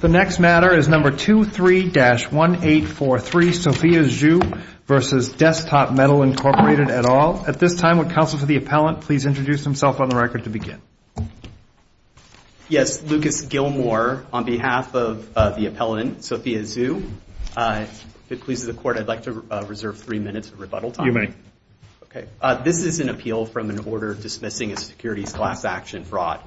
The next matter is No. 23-1843, Sophia Zhu v. Desktop Metal, Inc. At all. At this time, would counsel to the appellant please introduce himself on the record to begin. Yes, Lucas Gilmore on behalf of the appellant, Sophia Zhu, if it pleases the court, I'd like to reserve three minutes of rebuttal time. You may. Okay. This is an appeal from an order dismissing a securities class action fraud,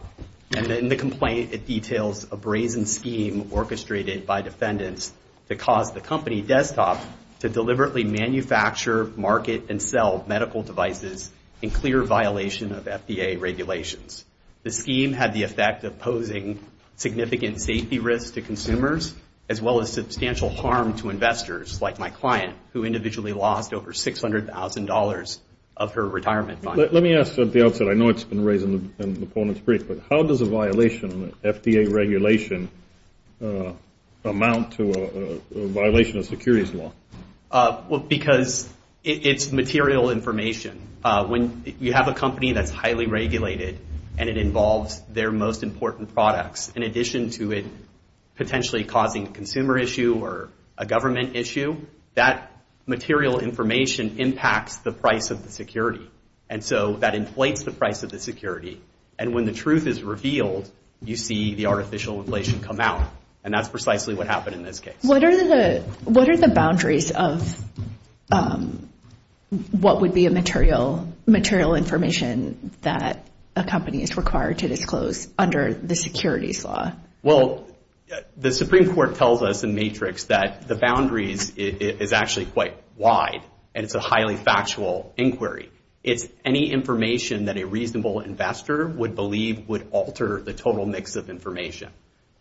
and in the complaint, it details a brazen scheme orchestrated by defendants to cause the company, Desktop, to deliberately manufacture, market, and sell medical devices in clear violation of FDA regulations. The scheme had the effect of posing significant safety risks to consumers, as well as substantial harm to investors, like my client, who individually lost over $600,000 of her retirement fund. Let me ask at the outset, I know it's been raised in the appellant's brief, but how does a violation of the FDA regulation amount to a violation of securities law? Because it's material information. When you have a company that's highly regulated and it involves their most important products, in addition to it potentially causing a consumer issue or a government issue, that material information impacts the price of the security. And so that inflates the price of the security. And when the truth is revealed, you see the artificial inflation come out. And that's precisely what happened in this case. What are the boundaries of what would be a material information that a company is required to disclose under the securities law? Well, the Supreme Court tells us in Matrix that the boundaries is actually quite wide, and it's a highly factual inquiry. It's any information that a reasonable investor would believe would alter the total mix of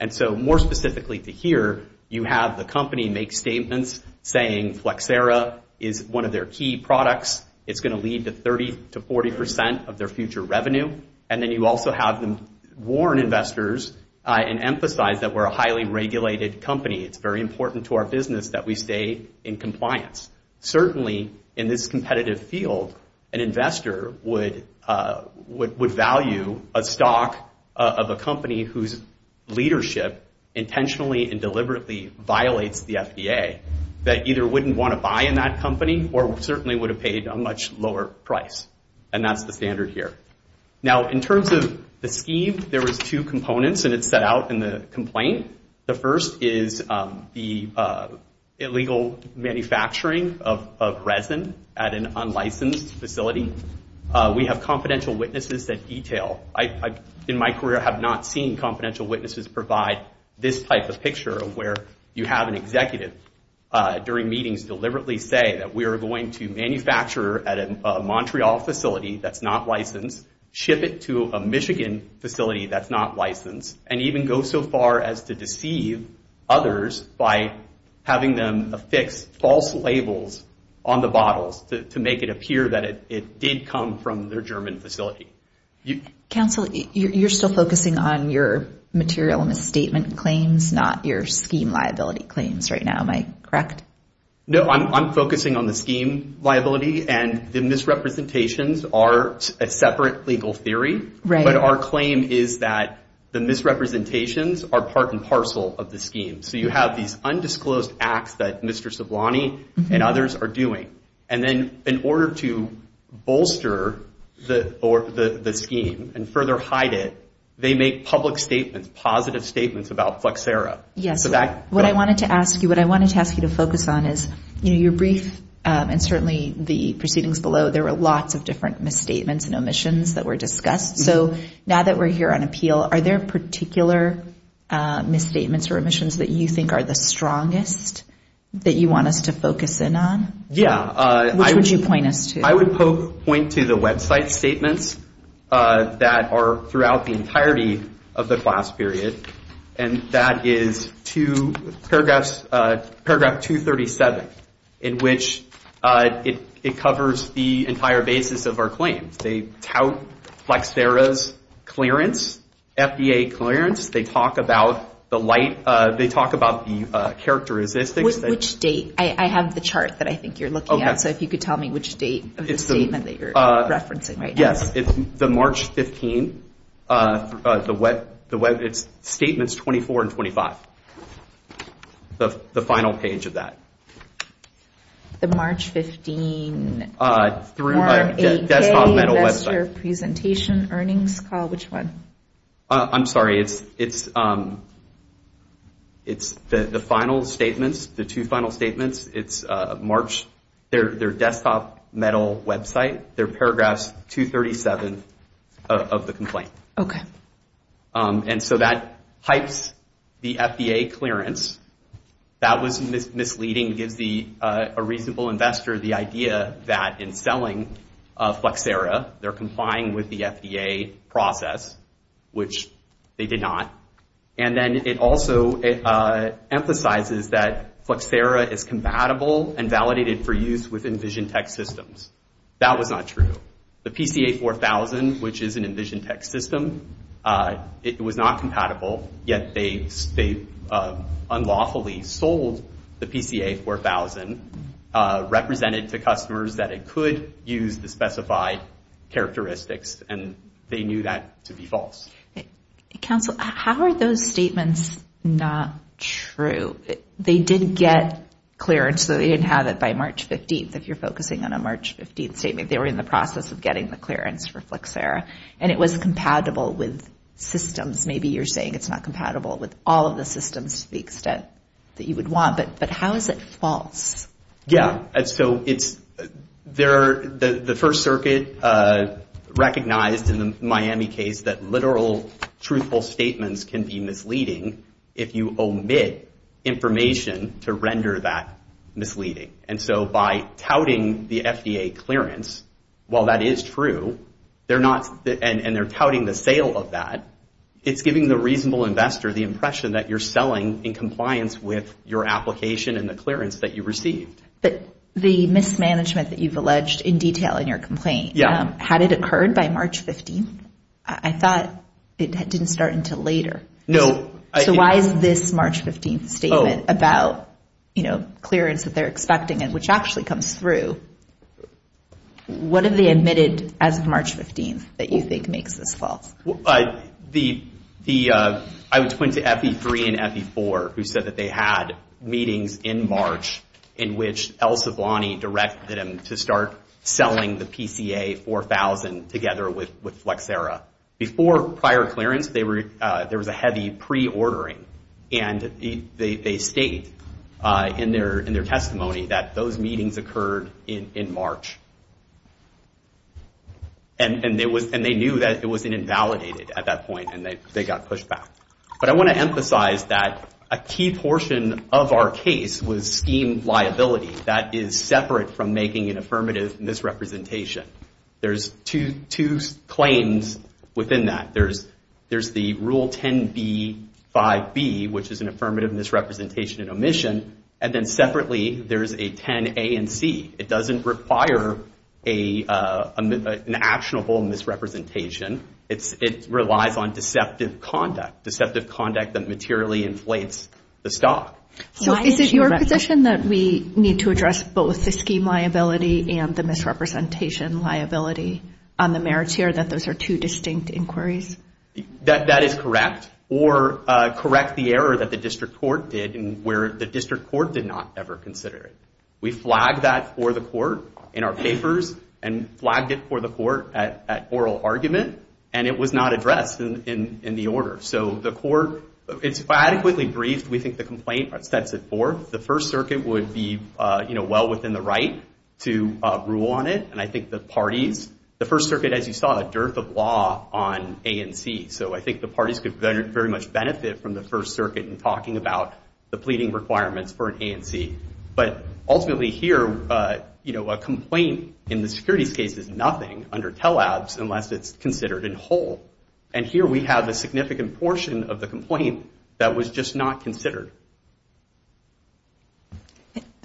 And so more specifically to here, you have the company make statements saying Flexera is one of their key products. It's going to lead to 30% to 40% of their future revenue. And then you also have them warn investors and emphasize that we're a highly regulated company. It's very important to our business that we stay in compliance. Certainly in this competitive field, an investor would value a stock of a company whose leadership intentionally and deliberately violates the FDA that either wouldn't want to buy in that company or certainly would have paid a much lower price. And that's the standard here. Now, in terms of the scheme, there was two components and it's set out in the complaint. The first is the illegal manufacturing of resin at an unlicensed facility. We have confidential witnesses that detail. I, in my career, have not seen confidential witnesses provide this type of picture of where you have an executive during meetings deliberately say that we are going to manufacture at a Montreal facility that's not licensed, ship it to a Michigan facility that's not licensed, and even go so far as to deceive others by having them affix false labels on the bottles to make it appear that it did come from their German facility. Counsel, you're still focusing on your material misstatement claims, not your scheme liability claims right now. Am I correct? No, I'm focusing on the scheme liability and the misrepresentations are a separate legal theory, but our claim is that the misrepresentations are part and parcel of the scheme. So, you have these undisclosed acts that Mr. Ceblani and others are doing. And then in order to bolster the scheme and further hide it, they make public statements, positive statements about Flexera. Yes. What I wanted to ask you, what I wanted to ask you to focus on is, you know, your brief and certainly the proceedings below, there were lots of different misstatements and omissions that were discussed. So, now that we're here on appeal, are there particular misstatements or omissions that you think are the strongest that you want us to focus in on? Yeah. Which would you point us to? I would point to the website statements that are throughout the entirety of the class period, and that is to paragraph 237, in which it covers the entire basis of our claims. They tout Flexera's clearance, FDA clearance. They talk about the light, they talk about the characteristics. Which date? I have the chart that I think you're looking at, so if you could tell me which date of the statement that you're referencing right now. Yes. It's the March 15, the web, it's statements 24 and 25. The final page of that. The March 15, 4-8-K Investor Presentation Earnings Call, which one? I'm sorry, it's the final statements, the two final statements, it's March, their desktop metal website, they're paragraphs 237 of the complaint. Okay. And so that hypes the FDA clearance. That was misleading, gives a reasonable investor the idea that in selling Flexera, they're complying with the FDA process, which they did not. And then it also emphasizes that Flexera is compatible and validated for use with Envision Tech Systems. That was not true. The PCA 4000, which is an Envision Tech System, it was not compatible, yet they unlawfully sold the PCA 4000, represented to customers that it could use the specified characteristics, and they knew that to be false. Counsel, how are those statements not true? They did get clearance, though they didn't have it by March 15, if you're focusing on a March 15 statement. They were in the process of getting the clearance for Flexera, and it was compatible with systems. Maybe you're saying it's not compatible with all of the systems to the extent that you would want, but how is it false? And so it's, the First Circuit recognized in the Miami case that literal, truthful statements can be misleading if you omit information to render that misleading. And so by touting the FDA clearance, while that is true, they're not, and they're touting the sale of that, it's giving the reasonable investor the impression that you're selling in compliance with your application and the clearance that you received. But the mismanagement that you've alleged in detail in your complaint, had it occurred by March 15? I thought it didn't start until later. No. So why is this March 15 statement about, you know, clearance that they're expecting and which actually comes through, what have they admitted as of March 15 that you think makes this false? The, I would point to FE3 and FE4, who said that they had meetings in March in which El Sivlani directed them to start selling the PCA 4000 together with Flexera. Before prior clearance, they were, there was a heavy pre-ordering and they state in their testimony that those meetings occurred in March. And they knew that it wasn't invalidated at that point and they got pushed back. But I want to emphasize that a key portion of our case was scheme liability. That is separate from making an affirmative misrepresentation. There's two claims within that. There's the Rule 10b-5b, which is an affirmative misrepresentation and omission. And then separately, there's a 10a and c. It doesn't require an actionable misrepresentation. It relies on deceptive conduct, deceptive conduct that materially inflates the stock. So is it your position that we need to address both the scheme liability and the misrepresentation liability on the merits here that those are two distinct inquiries? That is correct, or correct the error that the district court did where the district court did not ever consider it. We flagged that for the court in our papers and flagged it for the court at oral argument and it was not addressed in the order. So the court, it's adequately briefed. We think the complaint sets it forth. The First Circuit would be, you know, well within the right to rule on it. And I think the parties, the First Circuit, as you saw, a dearth of law on a and c. So I think the parties could very much benefit from the First Circuit in talking about the pleading requirements for an a and c. But ultimately here, you know, a complaint in the securities case is nothing under TELL-LABS unless it's considered in whole. And here we have a significant portion of the complaint that was just not considered.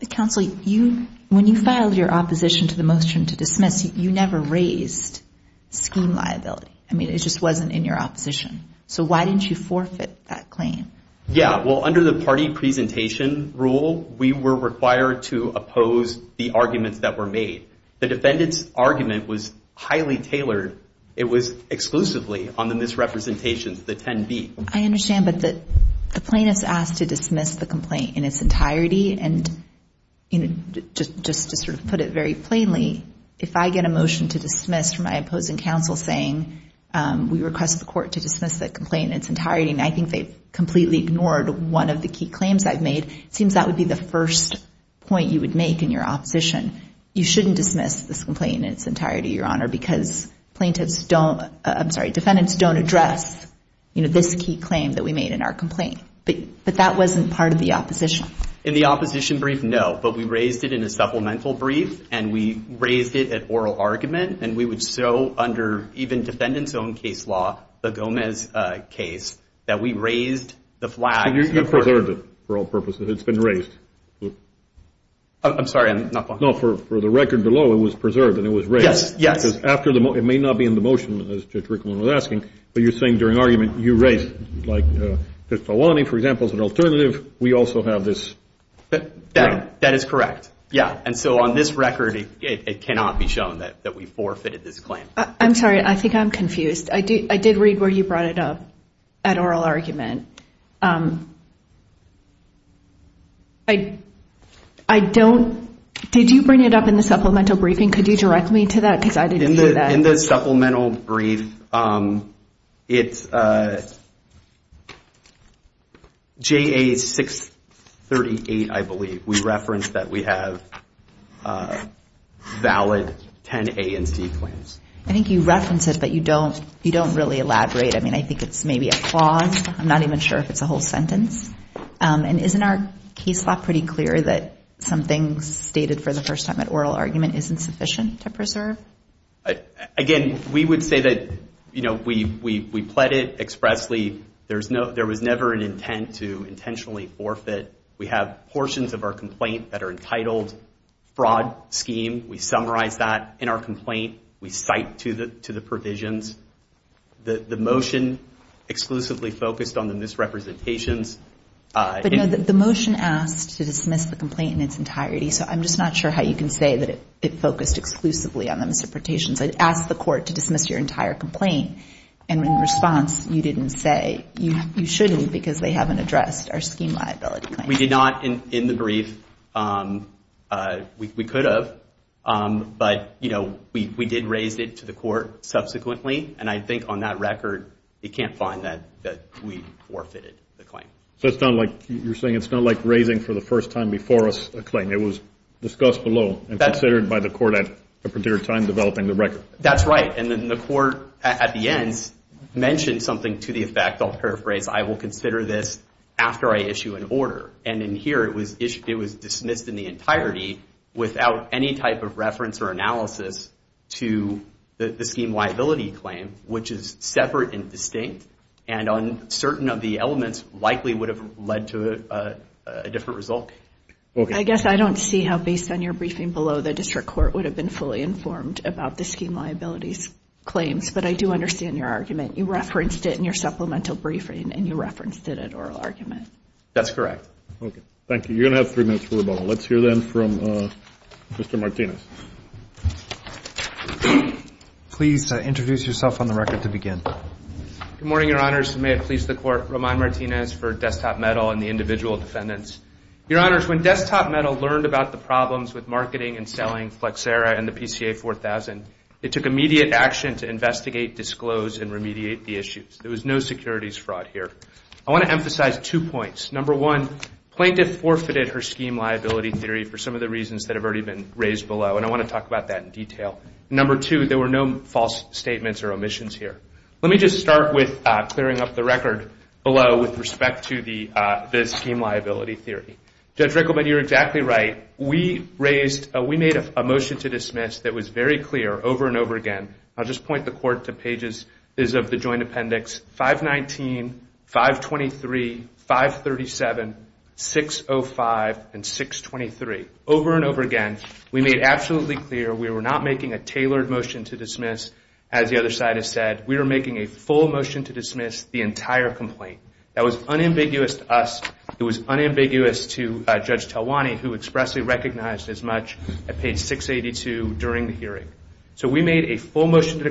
Counsel, you, when you filed your opposition to the motion to dismiss, you never raised scheme liability. I mean, it just wasn't in your opposition. So why didn't you forfeit that claim? Yeah, well, under the party presentation rule, we were required to oppose the arguments that were made. The defendant's argument was highly tailored. It was exclusively on the misrepresentations, the 10b. I understand, but the plaintiff's asked to dismiss the complaint in its entirety. And just to sort of put it very plainly, if I get a motion to dismiss from my opposing counsel saying we request the court to dismiss the complaint in its entirety, and I think they've completely ignored one of the key claims I've made, it seems that would be the first point you would make in your opposition. You shouldn't dismiss this complaint in its entirety, Your Honor, because plaintiffs don't, I'm sorry, defendants don't address, you know, this key claim that we made in our complaint. But that wasn't part of the opposition. In the opposition brief, no. But we raised it in a supplemental brief, and we raised it at oral argument, and we would so under even defendant's own case law, the Gomez case, that we raised the flag. You preserved it for all purposes. It's been raised. I'm sorry, I'm not following. No, for the record below, it was preserved and it was raised. Yes, yes. Because after the motion, it may not be in the motion, as Judge Rickman was asking, but you're saying during argument you raised, like, that Fawani, for example, is an alternative. We also have this. That is correct. Yeah. And so on this record, it cannot be shown that we forfeited this claim. I'm sorry. I think I'm confused. I did read where you brought it up at oral argument. I don't, did you bring it up in the supplemental briefing? Could you direct me to that? Because I didn't hear that. In the supplemental brief, it's JA 638, I believe. We referenced that we have valid 10 A and C claims. I think you referenced it, but you don't really elaborate. I mean, I think it's maybe a clause. I'm not even sure if it's a whole sentence. And isn't our case law pretty clear that something stated for the first time at oral argument isn't sufficient to preserve? Again, we would say that, you know, we pled it expressly. There was never an intent to intentionally forfeit. We have portions of our complaint that are entitled fraud scheme. We summarize that in our complaint. We cite to the provisions. The motion exclusively focused on the misrepresentations. But, no, the motion asked to dismiss the complaint in its entirety. So I'm just not sure how you can say that it focused exclusively on the misrepresentations. It asked the court to dismiss your entire complaint. And in response, you didn't say you shouldn't because they haven't addressed our scheme liability claim. We did not in the brief. We could have. But, you know, we did raise it to the court subsequently. And I think on that record, you can't find that we forfeited the claim. So it's not like you're saying it's not like raising for the first time before us a claim. It was discussed below and considered by the court at a particular time developing the record. That's right. And then the court, at the end, mentioned something to the effect, I'll paraphrase, I will consider this after I issue an order. And in here, it was dismissed in the entirety without any type of reference or analysis to the scheme liability claim, which is separate and distinct and on certain of the elements likely would have led to a different result. I guess I don't see how, based on your briefing below, the district court would have been fully informed about the scheme liabilities claims. But I do understand your argument. You referenced it in your supplemental briefing, and you referenced it at oral argument. That's correct. Okay. Thank you. You're going to have three minutes for rebuttal. Let's hear, then, from Mr. Martinez. Please introduce yourself on the record to begin. Good morning, Your Honors. May it please the Court, Roman Martinez for Desktop Metal and the individual defendants. Your Honors, when Desktop Metal learned about the problems with marketing and selling Flexera and the PCA 4000, it took immediate action to investigate, disclose, and remediate the issues. There was no securities fraud here. I want to emphasize two points. Number one, plaintiff forfeited her scheme liability theory for some of the reasons that have already been raised below, and I want to talk about that in detail. Number two, there were no false statements or omissions here. Let me just start with clearing up the record below with respect to the scheme liability theory. Judge Rickleman, you're exactly right. We made a motion to dismiss that was very clear over and over again. I'll just point the Court to pages of the Joint Appendix 519, 523, 537, 605, and 623. Over and over again, we made absolutely clear we were not making a tailored motion to dismiss, as the other side has said. We were making a full motion to dismiss the entire complaint. That was unambiguous to us. It was unambiguous to Judge Talwani, who expressly recognized as much at page 682 during the hearing. So we made a full motion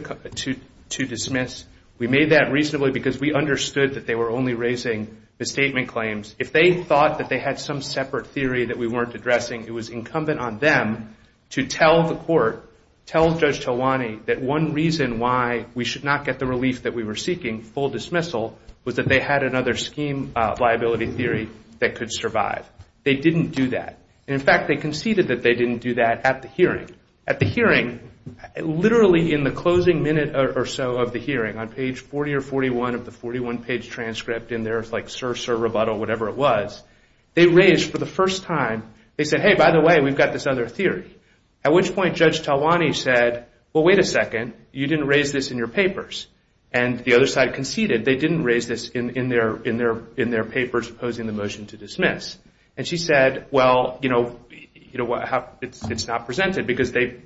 to dismiss. We made that reasonably because we understood that they were only raising misstatement claims. If they thought that they had some separate theory that we weren't addressing, it was incumbent on them to tell the Court, tell Judge Talwani, that one reason why we should not get the relief that we were seeking, full dismissal, was that they had another scheme liability theory that could survive. They didn't do that. In fact, they conceded that they didn't do that at the hearing. At the hearing, literally in the closing minute or so of the hearing, on page 40 or 41 of the 41-page transcript, and there's like circe or rebuttal, whatever it was, they raised for the first time, they said, hey, by the way, we've got this other theory. At which point Judge Talwani said, well, wait a second, you didn't raise this in your papers. And the other side conceded they didn't raise this in their papers opposing the motion to dismiss. And she said, well, you know, it's not presented because they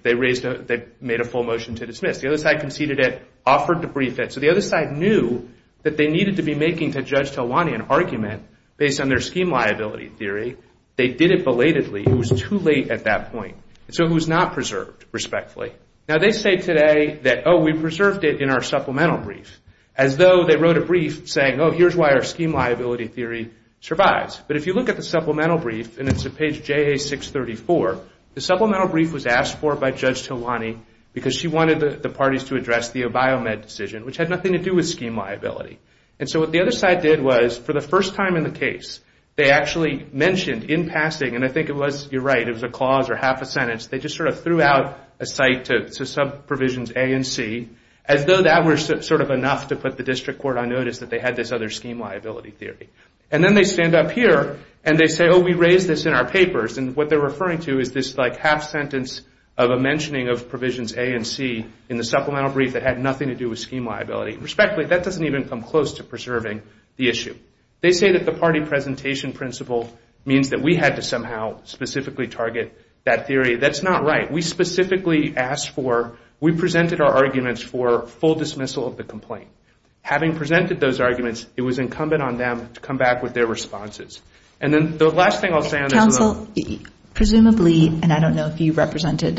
made a full motion to dismiss. The other side conceded it, offered to brief it. So the other side knew that they needed to be making to Judge Talwani an argument based on their scheme liability theory. They did it belatedly. It was too late at that point. So it was not preserved respectfully. Now, they say today that, oh, we preserved it in our supplemental brief, as though they wrote a brief saying, oh, here's why our scheme liability theory survives. But if you look at the supplemental brief, and it's at page JA634, the supplemental brief was asked for by Judge Talwani because she wanted the parties to address the Obiomed decision, which had nothing to do with scheme liability. And so what the other side did was, for the first time in the case, they actually mentioned in passing, and I think it was, you're right, it was a clause or half a sentence, they just sort of threw out a cite to some provisions A and C, as though that were sort of enough to put the district court on notice that they had this other scheme liability theory. And then they stand up here, and they say, oh, we raised this in our papers. And what they're referring to is this, like, half sentence of a mentioning of provisions A and C in the supplemental brief that had nothing to do with scheme liability. Respectfully, that doesn't even come close to preserving the issue. They say that the party presentation principle means that we had to somehow specifically target that theory. That's not right. We specifically asked for, we presented our arguments for full dismissal of the complaint. Having presented those arguments, it was incumbent on them to come back with their responses. And then the last thing I'll say on this is that... Presumably, and I don't know if you represented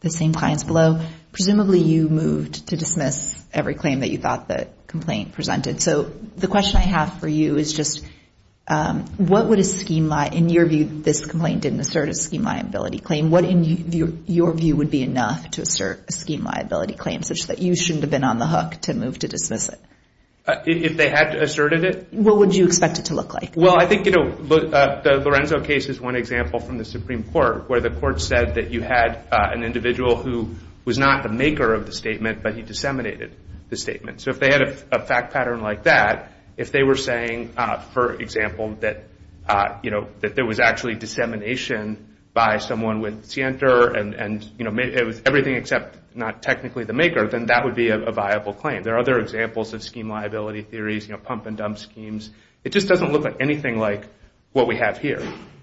the same clients below, presumably you moved to dismiss every claim that you thought the complaint presented. So the question I have for you is just, what would a scheme, in your view, this complaint didn't assert a scheme liability claim, what, in your view, would be enough to assert a scheme liability claim such that you shouldn't have been on the hook to move to dismiss it? If they had asserted it? What would you expect it to look like? Well, I think the Lorenzo case is one example from the Supreme Court, where the court said that you had an individual who was not the maker of the statement, but he disseminated the statement. So if they had a fact pattern like that, if they were saying, for example, that there was actually dissemination by someone with Sienter, and it was everything except not technically the maker, then that would be a viable claim. There are other examples of scheme liability theories, pump and dump schemes. It just doesn't look like anything like what we have here.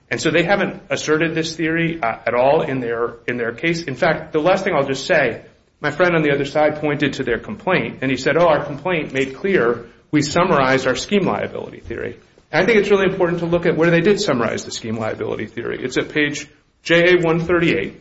And so they haven't asserted this theory at all in their case. In fact, the last thing I'll just say, my friend on the other side pointed to their complaint, and he said, oh, our complaint made clear we summarized our scheme liability theory. I think it's really important to look at where they did summarize the scheme liability theory. It's at page JA138,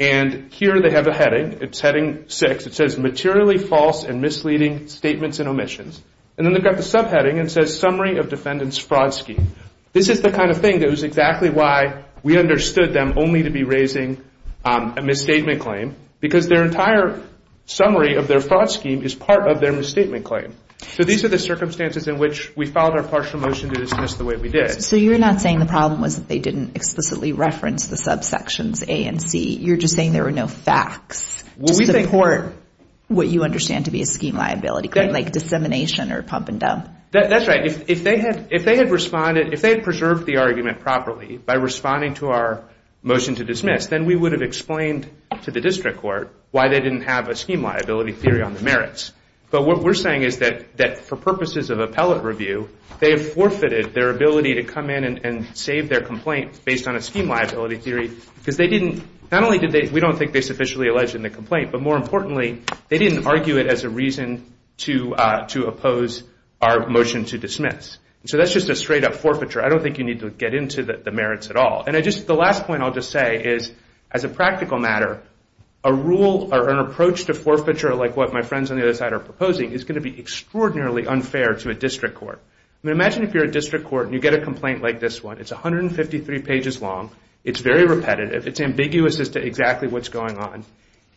and here they have a heading. It's heading six. It says materially false and misleading statements and omissions. And then they've got the subheading, and it says summary of defendant's fraud scheme. This is the kind of thing that was exactly why we understood them only to be raising a misstatement claim, because their entire summary of their fraud scheme is part of their misstatement claim. So these are the circumstances in which we filed our partial motion to dismiss the way we did. So you're not saying the problem was that they didn't explicitly reference the subsections A and C. You're just saying there were no facts to support what you understand to be a scheme liability claim, like dissemination or pump and dump. That's right. If they had responded, if they had preserved the argument properly by responding to our motion to dismiss, then we would have explained to the district court why they didn't have a scheme liability theory on the merits. But what we're saying is that for purposes of appellate review, they have forfeited their ability to come in and save their complaint based on a scheme liability theory, because they didn't, not only did they, we don't think they sufficiently alleged in the complaint, but more importantly, they didn't argue it as a reason to oppose our motion to dismiss. So that's just a straight-up forfeiture. I don't think you need to get into the merits at all. And the last point I'll just say is, as a practical matter, a rule or an approach to forfeiture, like what my friends on the other side are proposing, is going to be extraordinarily unfair to a district court. Imagine if you're a district court and you get a complaint like this one. It's 153 pages long. It's very repetitive. It's ambiguous as to exactly what's going on.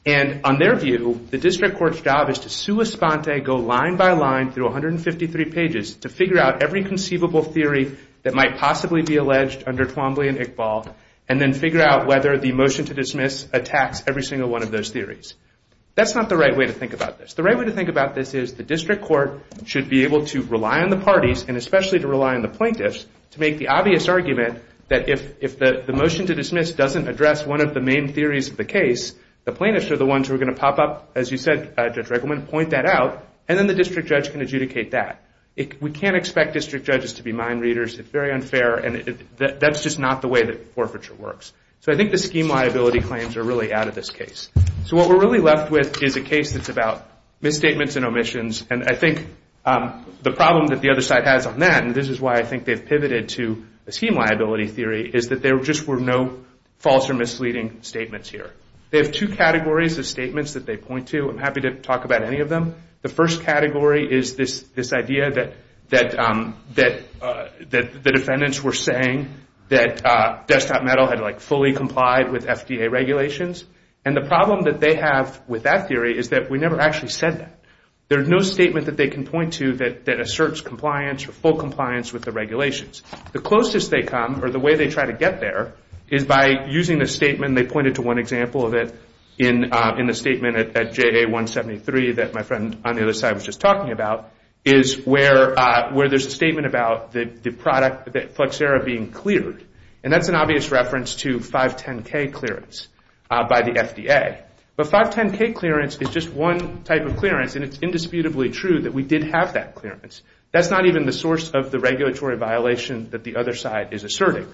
And on their view, the district court's job is to sua sponte, go line by line through 153 pages, to figure out every conceivable theory that might possibly be alleged under Twombly and Iqbal, and then figure out whether the motion to dismiss attacks every single one of those theories. That's not the right way to think about this. The right way to think about this is the district court should be able to rely on the parties, and especially to rely on the plaintiffs, to make the obvious argument that if the motion to dismiss doesn't address one of the main theories of the case, the plaintiffs are the ones who are going to pop up, as you said, Judge Regelman, point that out, and then the district judge can adjudicate that. We can't expect district judges to be mind readers. It's very unfair, and that's just not the way that forfeiture works. So I think the scheme liability claims are really out of this case. So what we're really left with is a case that's about misstatements and omissions, and I think the problem that the other side has on that, and this is why I think they've pivoted to a scheme liability theory, is that there just were no false or misleading statements here. They have two categories of statements that they point to. I'm happy to talk about any of them. The first category is this idea that the defendants were saying that Desktop Metal had fully complied with FDA regulations, and the problem that they have with that theory is that we never actually said that. There's no statement that they can point to that asserts compliance or full compliance with the regulations. The closest they come, or the way they try to get there, is by using the statement, they pointed to one example of it in the statement at JA-173 that my friend on the other side was just talking about, is where there's a statement about the product that Flexera being cleared, and that's an obvious reference to 510K clearance by the FDA. But 510K clearance is just one type of clearance, and it's indisputably true that we did have that clearance. That's not even the source of the regulatory violation that the other side is asserting.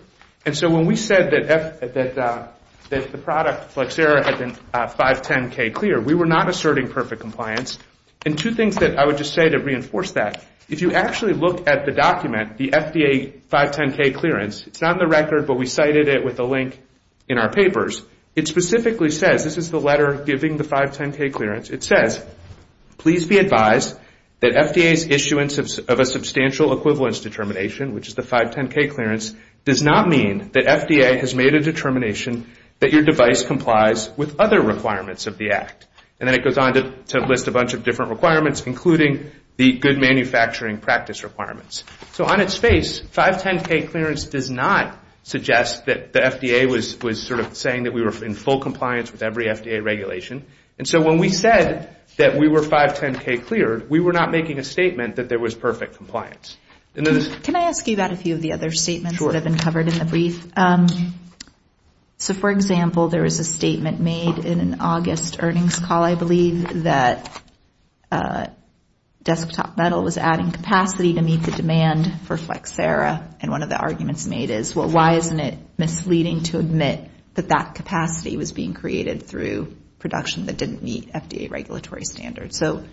And so when we said that the product Flexera had been 510K clear, we were not asserting perfect compliance. And two things that I would just say to reinforce that, if you actually look at the document, the FDA 510K clearance, it's not in the record, but we cited it with a link in our papers, it specifically says, this is the letter giving the 510K clearance, it says, please be advised that FDA's issuance of a substantial equivalence determination, which is the 510K clearance, does not mean that FDA has made a determination that your device complies with other requirements of the Act. And then it goes on to list a bunch of different requirements, including the good manufacturing practice requirements. So on its face, 510K clearance does not suggest that the FDA was sort of saying that we were in full compliance with every FDA regulation. And so when we said that we were 510K cleared, we were not making a statement that there was perfect compliance. Can I ask you about a few of the other statements that have been covered in the brief? So, for example, there was a statement made in an August earnings call, I believe, that desktop metal was adding capacity to meet the demand for Flexera, and one of the arguments made is, well, why isn't it misleading to admit that that capacity was being created through production that didn't meet FDA regulatory standards? So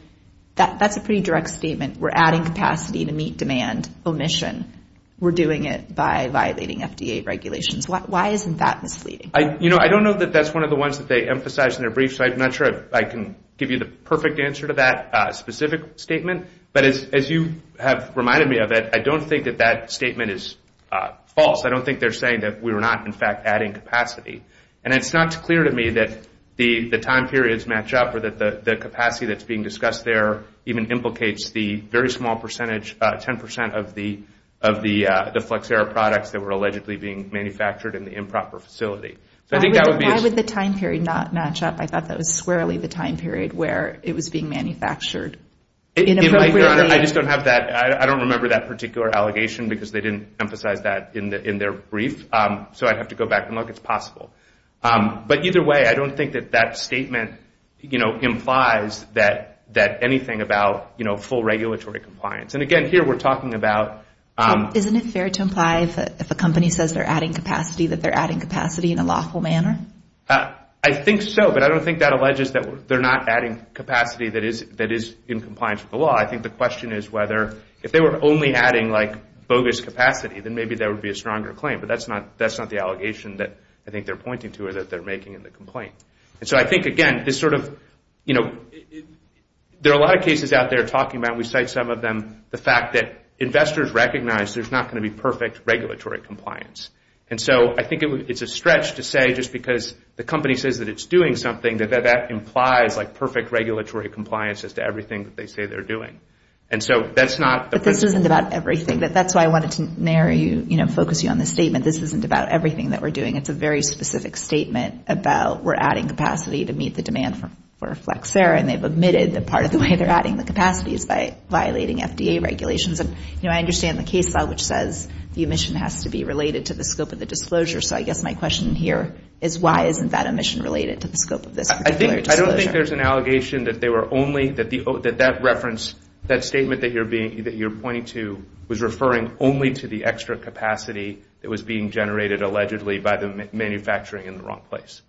that's a pretty direct statement. We're adding capacity to meet demand omission. We're doing it by violating FDA regulations. Why isn't that misleading? You know, I don't know that that's one of the ones that they emphasized in their brief, so I'm not sure I can give you the perfect answer to that specific statement. But as you have reminded me of it, I don't think that that statement is false. I don't think they're saying that we were not, in fact, adding capacity. And it's not clear to me that the time periods match up or that the capacity that's being discussed there even implicates the very small percentage, 10% of the Flexera products that were allegedly being manufactured in the improper facility. Why would the time period not match up? I thought that was squarely the time period where it was being manufactured. I just don't have that. I don't remember that particular allegation because they didn't emphasize that in their brief. So I'd have to go back and look. It's possible. But either way, I don't think that that statement implies anything about full regulatory compliance. And again, here we're talking about... Isn't it fair to imply that if a company says they're adding capacity, that they're adding capacity in a lawful manner? I think so, but I don't think that alleges that they're not adding capacity that is in compliance with the law. I think the question is whether if they were only adding like bogus capacity, then maybe there would be a stronger claim. But that's not the allegation that I think they're pointing to or that they're making in the complaint. And so I think, again, this sort of, you know, there are a lot of cases out there talking about and we cite some of them, the fact that investors recognize there's not going to be perfect regulatory compliance. And so I think it's a stretch to say just because the company says that it's doing something, that that implies like perfect regulatory compliance as to everything that they say they're doing. And so that's not... But this isn't about everything. That's why I wanted to narrow you, you know, focus you on the statement. This isn't about everything that we're doing. It's a very specific statement about we're adding capacity to meet the demand for Flexera. And they've admitted that part of the way they're adding the capacity is by violating FDA regulations. And, you know, I understand the case law which says the emission has to be related to the scope of the disclosure. So I guess my question here is why isn't that emission related to the scope of this particular disclosure? I don't think there's an allegation that they were only, that that reference, that statement that you're pointing to was referring only to the extra capacity that was being generated allegedly by the manufacturing in the wrong place.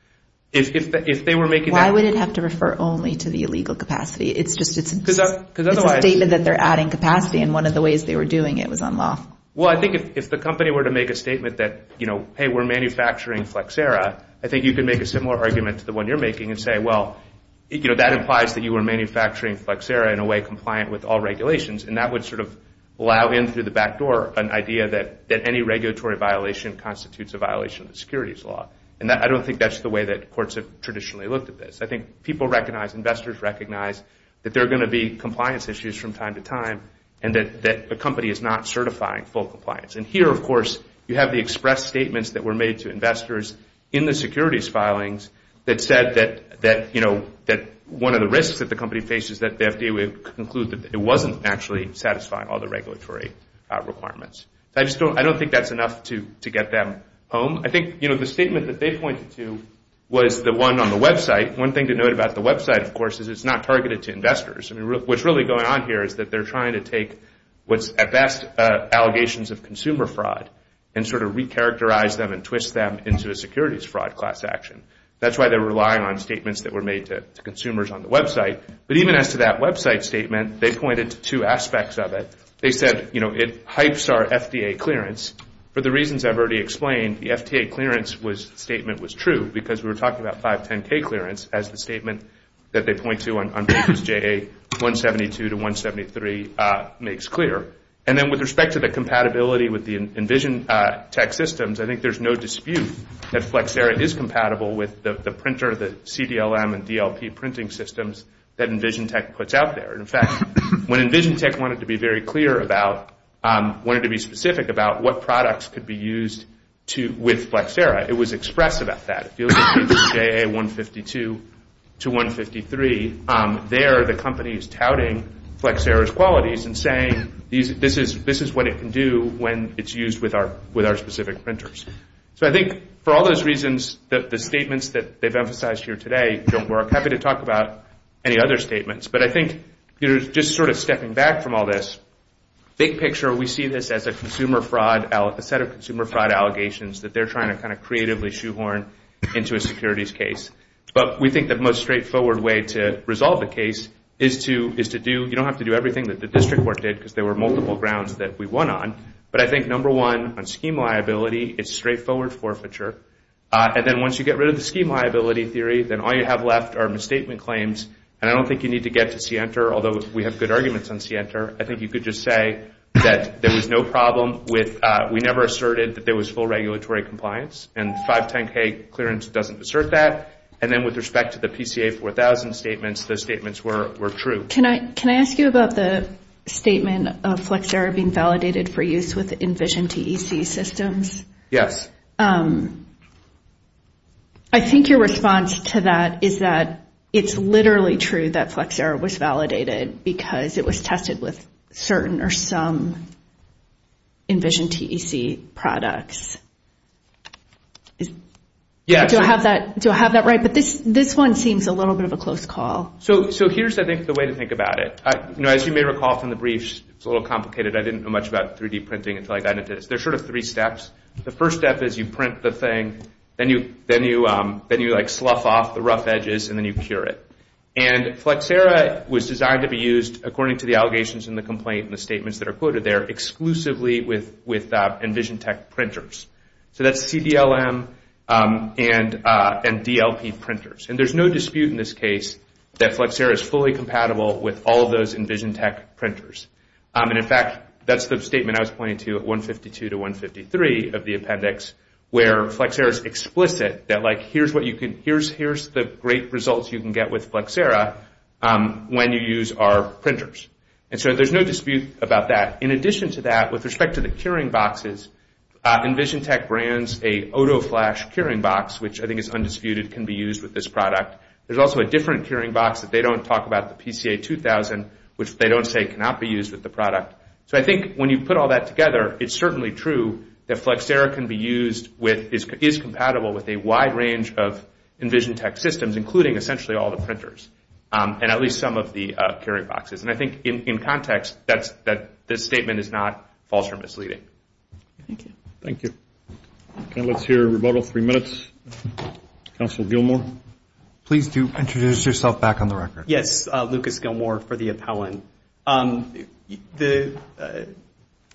If they were making that... Why would it have to refer only to the illegal capacity? It's a statement that they're adding capacity, and one of the ways they were doing it was on law. Well, I think if the company were to make a statement that, you know, hey, we're manufacturing Flexera, I think you could make a similar argument to the one you're making and say, well, you know, that implies that you were manufacturing Flexera in a way compliant with all regulations. And that would sort of allow in through the back door an idea that any regulatory violation constitutes a violation of securities law. And I don't think that's the way that courts have traditionally looked at this. I think people recognize, investors recognize that there are going to be compliance issues from time to time and that a company is not certifying full compliance. And here, of course, you have the express statements that were made to investors in the securities filings that said that, you know, that one of the risks that the company faces, that they would conclude that it wasn't actually satisfying all the regulatory requirements. I just don't, I don't think that's enough to get them home. I think, you know, the statement that they pointed to was the one on the website. One thing to note about the website, of course, is it's not targeted to investors. I mean, what's really going on here is that they're trying to take what's at best allegations of consumer fraud and sort of recharacterize them and twist them into a securities fraud class action. That's why they're relying on statements that were made to consumers on the website. But even as to that website statement, they pointed to two aspects of it. They said, you know, it hypes our FDA clearance. For the reasons I've already explained, the FDA clearance statement was true because we were talking about 510K clearance as the statement that they point to on papers JA 172 to 173 makes clear. And then with respect to the compatibility with the EnvisionTech systems, I think there's no dispute that Flexera is compatible with the printer, the CDLM and DLP printing systems that EnvisionTech puts out there. In fact, when EnvisionTech wanted to be very clear about, wanted to be specific about what products could be used with Flexera, it was expressed about that. If you look at HJA 152 to 153, there the company is touting Flexera's qualities and saying this is what it can do when it's used with our specific printers. So I think for all those reasons, the statements that they've emphasized here today don't work. I'm happy to talk about any other statements. But I think just sort of stepping back from all this, big picture we see this as a consumer fraud, a set of consumer fraud allegations that they're trying to kind of creatively shoehorn into a securities case. But we think the most straightforward way to resolve the case is to do, you don't have to do everything that the district court did because there were multiple grounds that we won on. But I think number one on scheme liability, it's straightforward forfeiture. And then once you get rid of the scheme liability theory, then all you have left are misstatement claims. And I don't think you need to get to CENTER, although we have good arguments on CENTER. I think you could just say that there was no problem with, we never asserted that there was full regulatory compliance. And 510K clearance doesn't assert that. And then with respect to the PCA 4000 statements, those statements were true. Can I ask you about the statement of Flexera being validated for use with Envision TEC systems? Yes. I think your response to that is that it's literally true that Flexera was validated because it was tested with certain or some Envision TEC products. Do I have that right? But this one seems a little bit of a close call. So here's, I think, the way to think about it. As you may recall from the briefs, it's a little complicated. I didn't know much about 3D printing until I got into this. There's sort of three steps. The first step is you print the thing, then you slough off the rough edges, and then you cure it. And Flexera was designed to be used, according to the allegations in the complaint and the statements that are quoted there, exclusively with Envision TEC printers. So that's CDLM and DLP printers. And there's no dispute in this case that Flexera is fully compatible with all of those Envision TEC printers. And, in fact, that's the statement I was pointing to at 152 to 153 of the appendix, where Flexera is explicit that, like, here's the great results you can get with Flexera when you use our printers. And so there's no dispute about that. In addition to that, with respect to the curing boxes, Envision TEC brands an OtoFlash curing box, which I think is undisputed, can be used with this product. There's also a different curing box that they don't talk about, the PCA 2000, which they don't say cannot be used with the product. So I think when you put all that together, it's certainly true that Flexera can be used with, is compatible with a wide range of Envision TEC systems, including essentially all the printers and at least some of the curing boxes. And I think, in context, that this statement is not false or misleading. Thank you. Thank you. Okay, let's hear a rebuttal, three minutes. Counsel Gilmour. Please do introduce yourself back on the record. Yes, Lucas Gilmour for the appellant.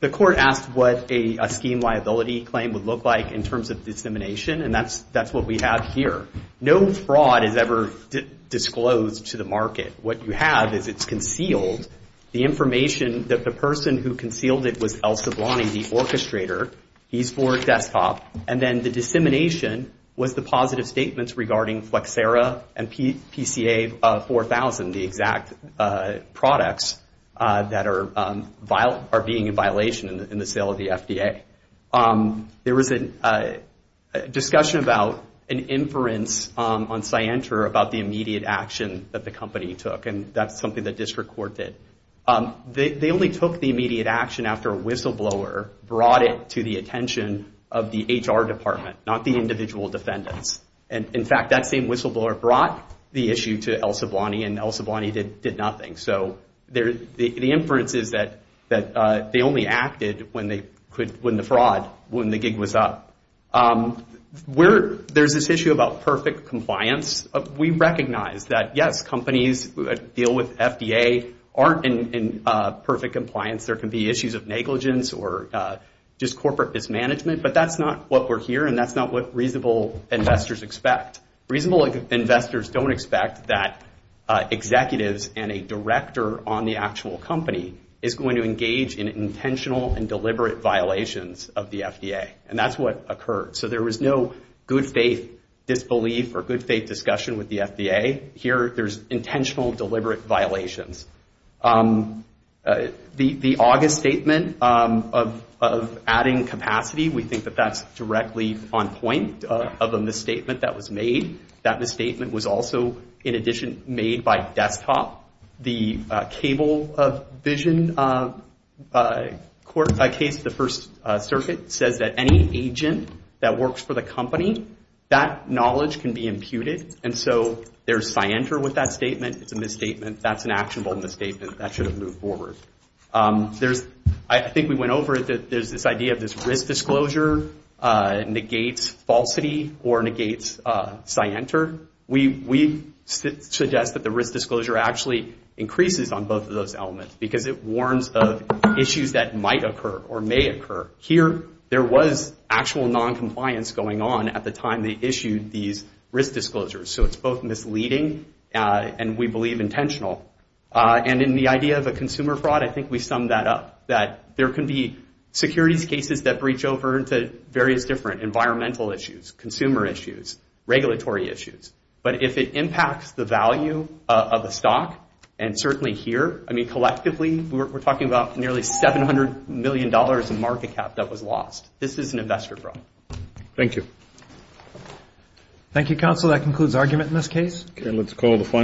The court asked what a scheme liability claim would look like in terms of dissemination, and that's what we have here. No fraud is ever disclosed to the market. What you have is it's concealed. The information that the person who concealed it was El Sablani, the orchestrator. He's for desktop. And then the dissemination was the positive statements regarding Flexera and PCA 4000, the exact products that are being in violation in the sale of the FDA. There was a discussion about an inference on Scienter about the immediate action that the company took, and that's something that district court did. They only took the immediate action after a whistleblower brought it to the attention of the HR department, not the individual defendants. And, in fact, that same whistleblower brought the issue to El Sablani, and El Sablani did nothing. So the inference is that they only acted when the fraud, when the gig was up. There's this issue about perfect compliance. We recognize that, yes, companies deal with FDA aren't in perfect compliance. There can be issues of negligence or just corporate mismanagement, but that's not what we're hearing. That's not what reasonable investors expect. Reasonable investors don't expect that executives and a director on the actual company is going to engage in intentional and deliberate violations of the FDA, and that's what occurred. So there was no good faith disbelief or good faith discussion with the FDA. Here, there's intentional, deliberate violations. The August statement of adding capacity, we think that that's directly on point of a misstatement that was made. That misstatement was also, in addition, made by desktop. The cable vision court case, the First Circuit, says that any agent that works for the company, that knowledge can be imputed, and so there's scienter with that statement. It's a misstatement. That's an actionable misstatement. That should have moved forward. There's, I think we went over it, that there's this idea of this risk disclosure negates falsity or negates scienter. We suggest that the risk disclosure actually increases on both of those elements because it warns of issues that might occur or may occur. Here, there was actual noncompliance going on at the time they issued these risk disclosures, so it's both misleading and, we believe, intentional. And in the idea of a consumer fraud, I think we sum that up, that there can be securities cases that breach over into various different environmental issues, consumer issues, regulatory issues. But if it impacts the value of a stock, and certainly here, I mean, collectively, we're talking about nearly $700 million in market cap that was lost. This is an investor problem. Thank you. Thank you, counsel. That concludes argument in this case.